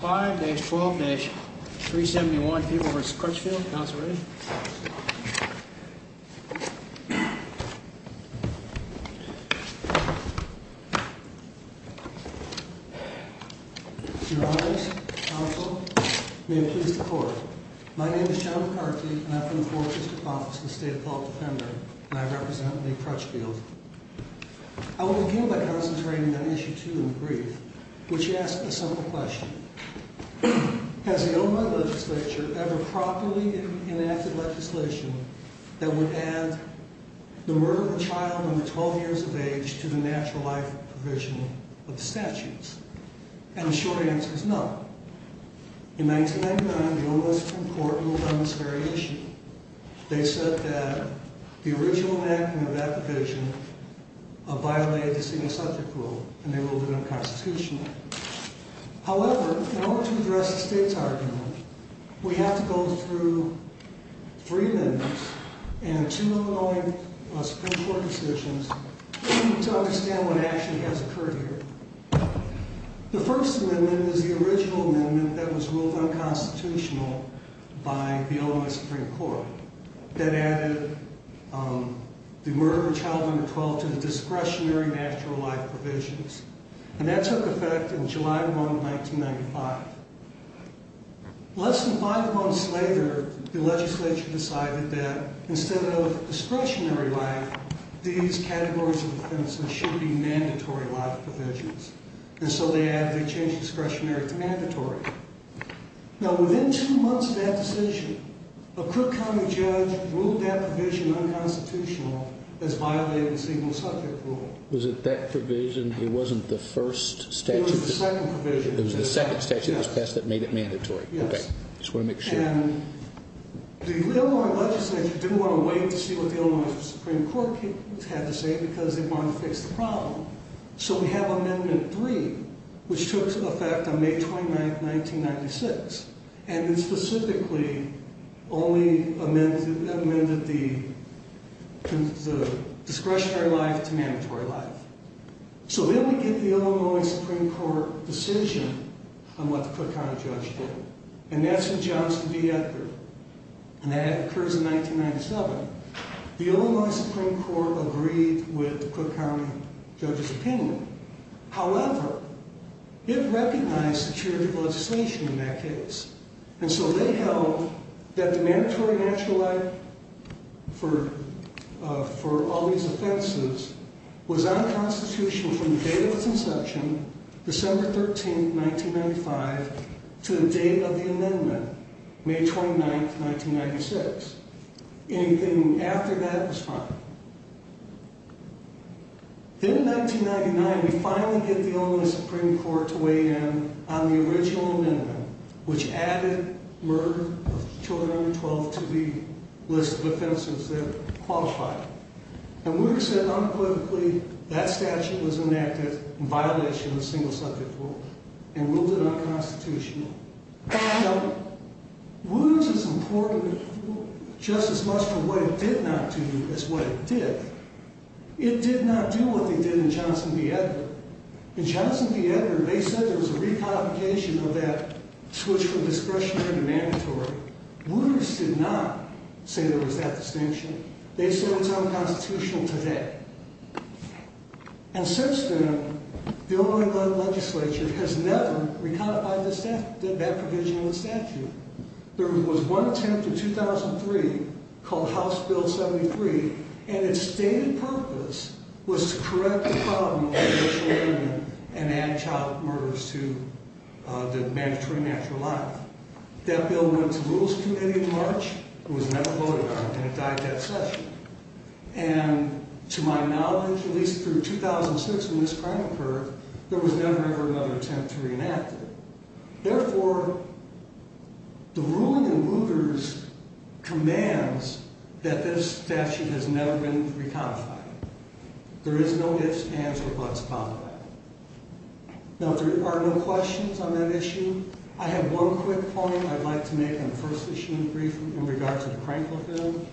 5-12-371 People vs. Crutchfield. Council, ready? Your Honors, Council, may it please the Court. My name is John McCarthy, and I'm from the Fourth District Office of the State Appellate Defender, and I represent v. Crutchfield. I will begin by concentrating on Issue 2 in brief, which asks a simple question. Has the OMA legislature ever properly enacted legislation that would add the murder of a child under 12 years of age to the natural life provision of the statutes? And the short answer is no. In 1999, the OMA Supreme Court ruled on this very issue. They said that the original enactment of that provision violated the single-subject rule, and they ruled it unconstitutional. However, in order to address the state's argument, we have to go through three amendments and two Illinois Supreme Court decisions to understand what actually has occurred here. The first amendment is the original amendment that was ruled unconstitutional by the Illinois Supreme Court that added the murder of a child under 12 to the discretionary natural life provisions. And that took effect on July 1, 1995. Less than five months later, the legislature decided that instead of discretionary life, these categories of offenders should be mandatory life provisions. And so they added, they changed discretionary to mandatory. Now, within two months of that decision, a Cook County judge ruled that provision unconstitutional as violating the single-subject rule. Was it that provision? It wasn't the first statute? It was the second provision. It was the second statute that was passed that made it mandatory. Yes. Okay. I just want to make sure. And the Illinois legislature didn't want to wait to see what the Illinois Supreme Court had to say because they wanted to fix the problem. So we have Amendment 3, which took effect on May 29, 1996, and it specifically only amended the discretionary life to mandatory life. So then we get the Illinois Supreme Court decision on what the Cook County judge did. And that's in Johnston v. Edgar. And that occurs in 1997. The Illinois Supreme Court agreed with the Cook County judge's opinion. However, it recognized security legislation in that case. And so they held that the mandatory natural life for all these offenses was unconstitutional from the date of its inception, December 13, 1995, to the date of the amendment, May 29, 1996. Anything after that was fine. Then in 1999, we finally get the Illinois Supreme Court to weigh in on the original amendment, which added murder of children under 12 to the list of offenses that qualified. And Woodward said, unequivocally, that statute was enacted in violation of single-subject rule and ruled it unconstitutional. Now, Woodward's is important just as much for what it did not do as what it did. It did not do what they did in Johnston v. Edgar. In Johnston v. Edgar, they said there was a reconstitution of that switch from discretionary to mandatory. Woodward's did not say there was that distinction. They said it's unconstitutional today. And since then, the Illinois legislature has never recanted that provision of the statute. There was one attempt in 2003 called House Bill 73, and its stated purpose was to correct the problem of the original amendment and add child murders to the mandatory natural life. That bill went to rules committee in March. It was never voted on, and it died that session. And to my knowledge, at least through 2006 when this crime occurred, there was never, ever another attempt to reenact it. Therefore, the ruling in Woodward's commands that this statute has never been recanted. There is no ifs, ands, or buts found in that. Now, if there are no questions on that issue, I have one quick point I'd like to make on the first issue in regard to the Crankville hearing.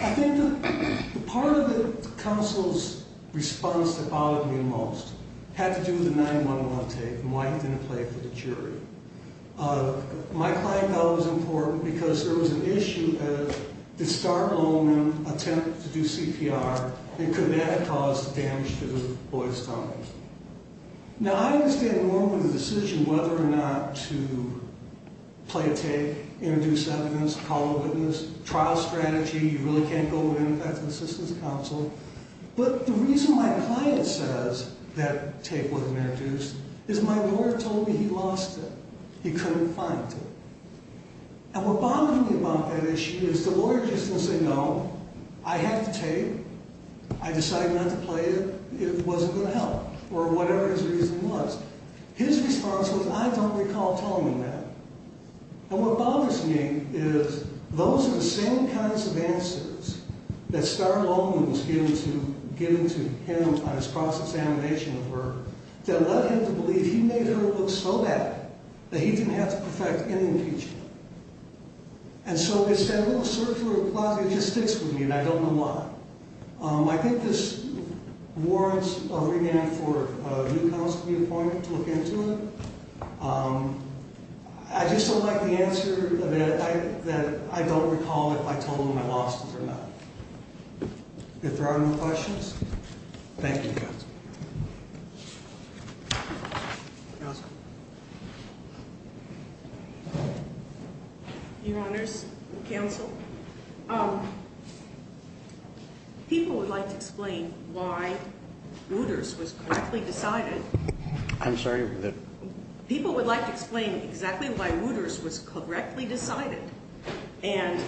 I think that part of the council's response that bothered me most had to do with the 9-1-1 tape and why he didn't play it for the jury. My client felt it was important because there was an issue as did Starr Loman attempt to do CPR, and could that have caused damage to the boy's stomach? Now, I understand normally the decision whether or not to play a tape, introduce evidence, call a witness, trial strategy. You really can't go in without an assistant's counsel. But the reason my client says that tape wasn't introduced is my lawyer told me he lost it. He couldn't find it. And what bothered me about that issue is the lawyer just didn't say, no, I had the tape. I decided not to play it. It wasn't going to help, or whatever his reason was. His response was, I don't recall telling him that. And what bothers me is those are the same kinds of answers that Starr Loman was given to him on his cross-examination of her that led him to believe he made her look so bad that he didn't have to perfect any impeachment. And so it's that little surge of applause that just sticks with me, and I don't know why. I think this warrants a remand for a new counsel to be appointed to look into it. I just don't like the answer that I don't recall if I told him I lost it or not. If there are no questions, thank you, counsel. Your Honors, counsel, people would like to explain why Wooders was correctly decided. I'm sorry? People would like to explain exactly why Wooders was correctly decided and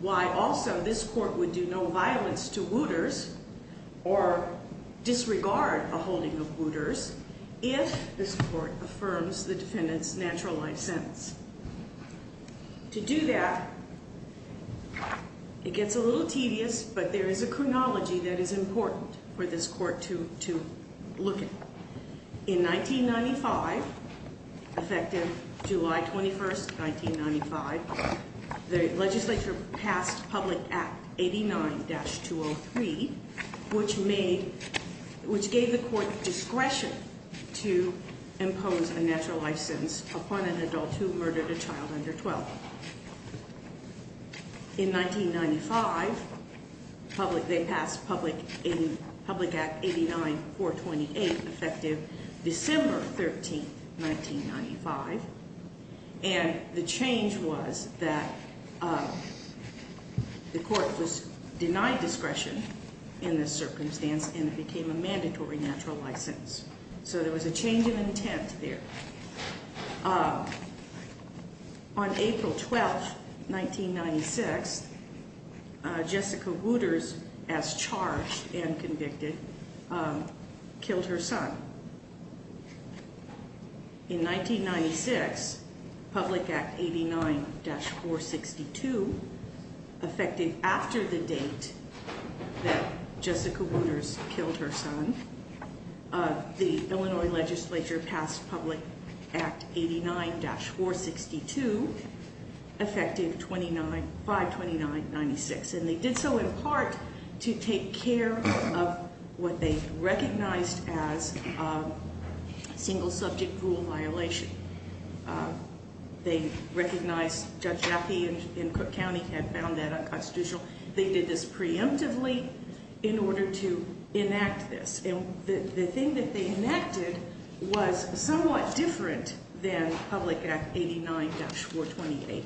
why also this court would do no violence to Wooders or disregard a holding of Wooders if this court affirms the defendant's natural life sentence. To do that, it gets a little tedious, but there is a chronology that is important for this court to look at. In 1995, effective July 21st, 1995, the legislature passed Public Act 89-203, which gave the court discretion to impose a natural life sentence upon an adult who murdered a child under 12. In 1995, they passed Public Act 89-428, effective December 13th, 1995, and the change was that the court was denied discretion in this circumstance and it became a mandatory natural license. So there was a change of intent there. On April 12th, 1996, Jessica Wooders, as charged and convicted, killed her son. In 1996, Public Act 89-462, effective after the date that Jessica Wooders killed her son, the Illinois legislature passed Public Act 89-462, effective 5-29-96. And they did so in part to take care of what they recognized as a single-subject rule violation. They recognized Judge Yaffe in Cook County had found that unconstitutional. They did this preemptively in order to enact this. And the thing that they enacted was somewhat different than Public Act 89-428.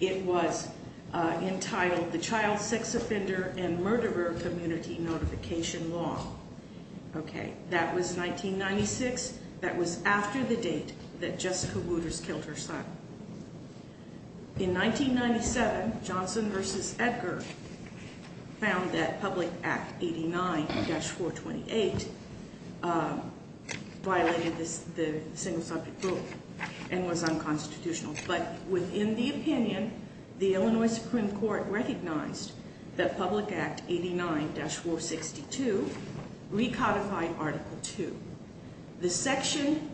It was entitled the Child Sex Offender and Murderer Community Notification Law. Okay. That was 1996. That was after the date that Jessica Wooders killed her son. In 1997, Johnson v. Edgar found that Public Act 89-428 violated the single-subject rule and was unconstitutional. But within the opinion, the Illinois Supreme Court recognized that Public Act 89-462 recodified Article 2. The section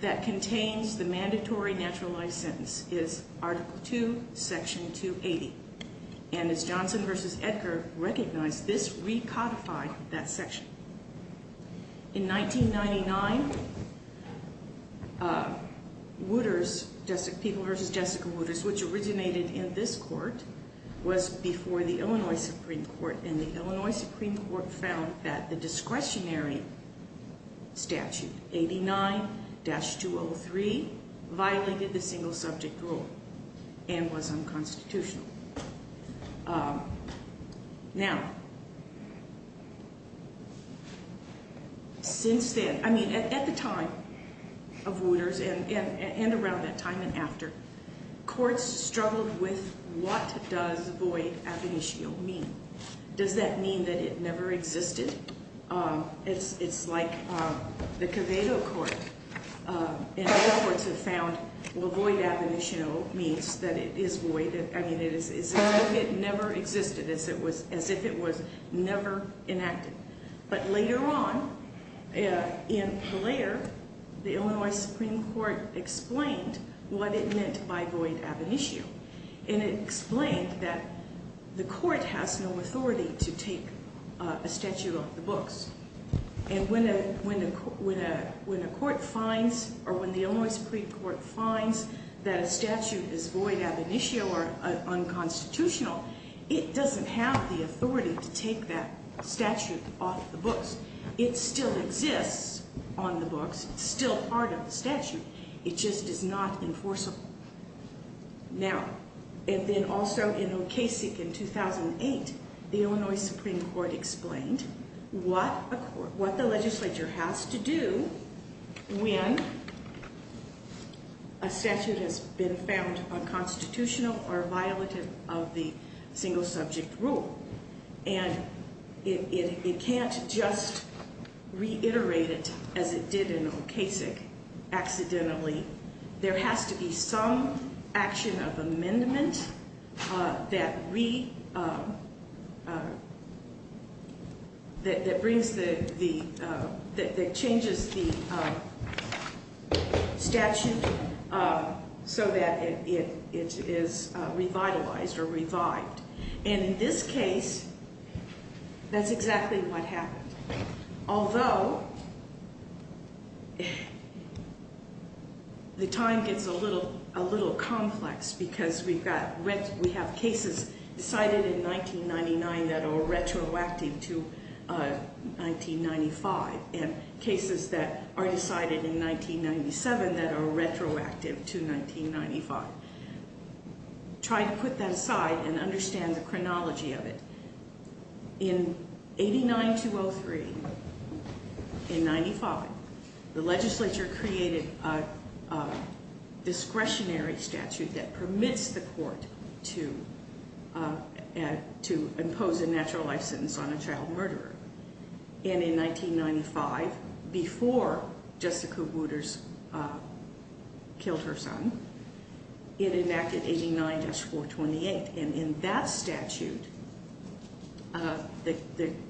that contains the mandatory naturalized sentence is Article 2, Section 280. And as Johnson v. Edgar recognized, this recodified that section. In 1999, Wooders, People v. Jessica Wooders, which originated in this court, was before the Illinois Supreme Court. And the Illinois Supreme Court found that the discretionary statute 89-203 violated the single-subject rule and was unconstitutional. Now, since then, I mean, at the time of Wooders and around that time and after, courts struggled with what does void ab initio mean? Does that mean that it never existed? It's like the Coveto Court and Edwards have found, well, void ab initio means that it is void. I mean, it is as if it never existed, as if it was never enacted. But later on, in Hilaire, the Illinois Supreme Court explained what it meant by void ab initio. And it explained that the court has no authority to take a statute off the books. And when a court finds or when the Illinois Supreme Court finds that a statute is void ab initio or unconstitutional, it doesn't have the authority to take that statute off the books. It still exists on the books. It's still part of the statute. It just is not enforceable. Now, and then also in Ocasek in 2008, the Illinois Supreme Court explained what a court, what the legislature has to do when a statute has been found unconstitutional or violative of the single-subject rule. And it can't just reiterate it as it did in Ocasek accidentally. There has to be some action of amendment that brings the, that changes the statute so that it is revitalized or revived. And in this case, that's exactly what happened. Although, the time gets a little complex because we've got, we have cases decided in 1999 that are retroactive to 1995. And cases that are decided in 1997 that are retroactive to 1995. Try to put that aside and understand the chronology of it. In 89-203, in 95, the legislature created a discretionary statute that permits the court to impose a natural life sentence on a child murderer. And in 1995, before Jessica Wooders killed her son, it enacted 89-428. And in that statute,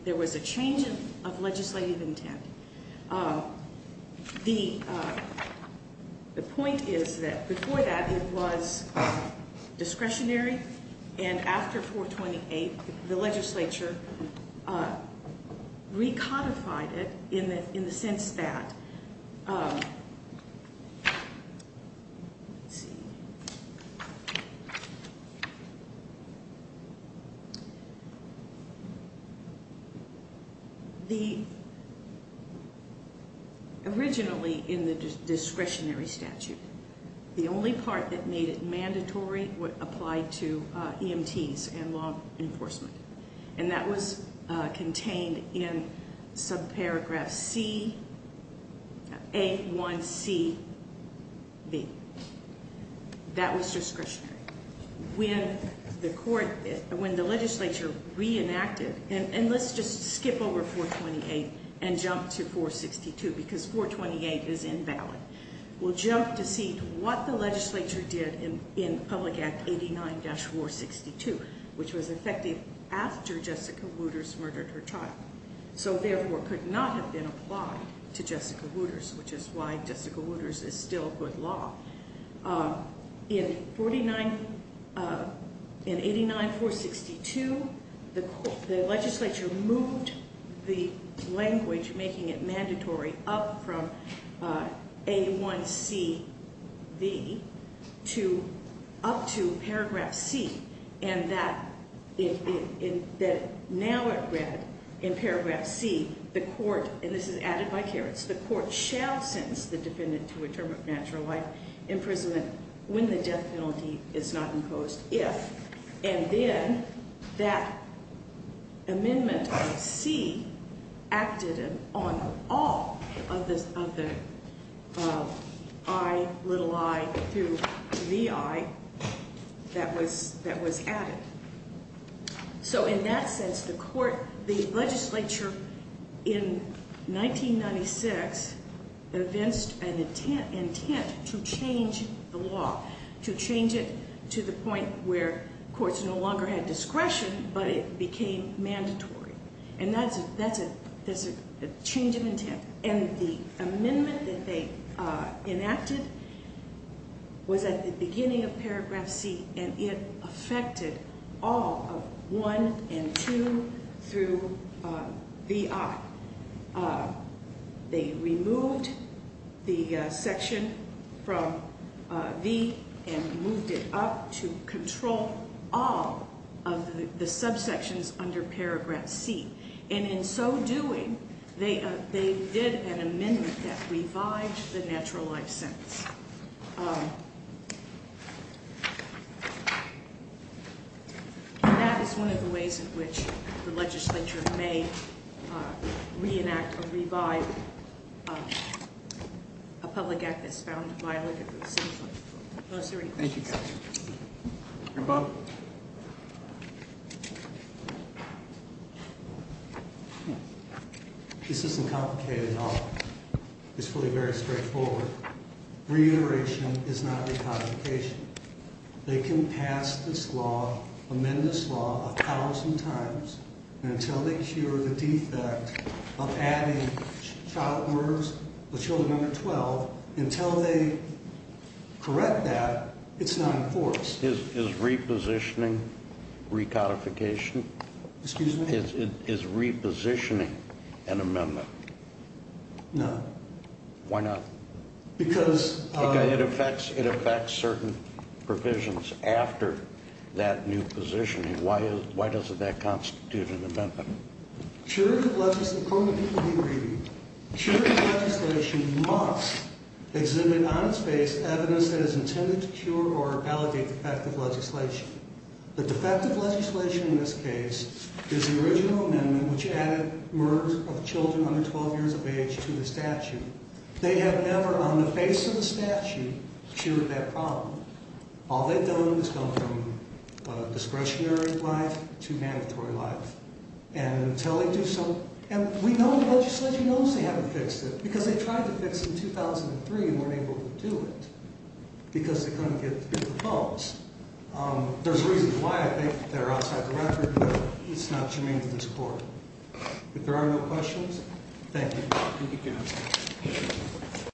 there was a change of legislative intent. The point is that before that, it was discretionary. And after 428, the legislature recodified it in the sense that, let's see, the, originally in the discretionary statute, the only part that made it mandatory applied to EMTs and law enforcement. And that was contained in subparagraph CA1CB. That was discretionary. When the court, when the legislature reenacted, and let's just skip over 428 and jump to 462 because 428 is invalid. We'll jump to see what the legislature did in Public Act 89-462, which was effective after Jessica Wooders murdered her child. So therefore, could not have been applied to Jessica Wooders, which is why Jessica Wooders is still good law. In 49, in 89-462, the legislature moved the language, making it mandatory, up from A1CB to, up to paragraph C. And that, now it read in paragraph C, the court, and this is added by Keritz, the court shall sentence the defendant to a term of natural life imprisonment when the death penalty is not imposed, if, and then that amendment of C acted on all of the I, little I, through the I that was added. So in that sense, the court, the legislature in 1996, advanced an intent to change the law, to change it to the point where courts no longer had discretion, but it became mandatory. And that's a change of intent. And the amendment that they enacted was at the beginning of paragraph C, and it affected all of 1 and 2 through the I. They removed the section from the, and moved it up to control all of the subsections under paragraph C. And in so doing, they did an amendment that revived the natural life sentence. And that is one of the ways in which the legislature may reenact or revive a public act that's found violent in the city court. Are there any questions? Thank you, counsel. Mr. Baum. This isn't complicated at all. It's fully very straightforward. Reiteration is not recodification. They can pass this law, amend this law a thousand times, and until they cure the defect of adding child murders with children under 12, until they correct that, it's not enforced. Is repositioning recodification? Excuse me? Is repositioning an amendment? No. Why not? Because- It affects certain provisions after that new positioning. Why doesn't that constitute an amendment? According to the reading, curative legislation must exhibit on its face evidence that is intended to cure or allocate defective legislation. The defective legislation in this case is the original amendment which added murders of children under 12 years of age to the statute. They have never, on the face of the statute, cured that problem. All they've done is come from discretionary life to mandatory life. And until they do some- And we know the legislature knows they haven't fixed it, because they tried to fix it in 2003 and weren't able to do it, because they couldn't get through the polls. There's a reason why I think they're outside the record, but it's not germane to this court. If there are no questions, thank you.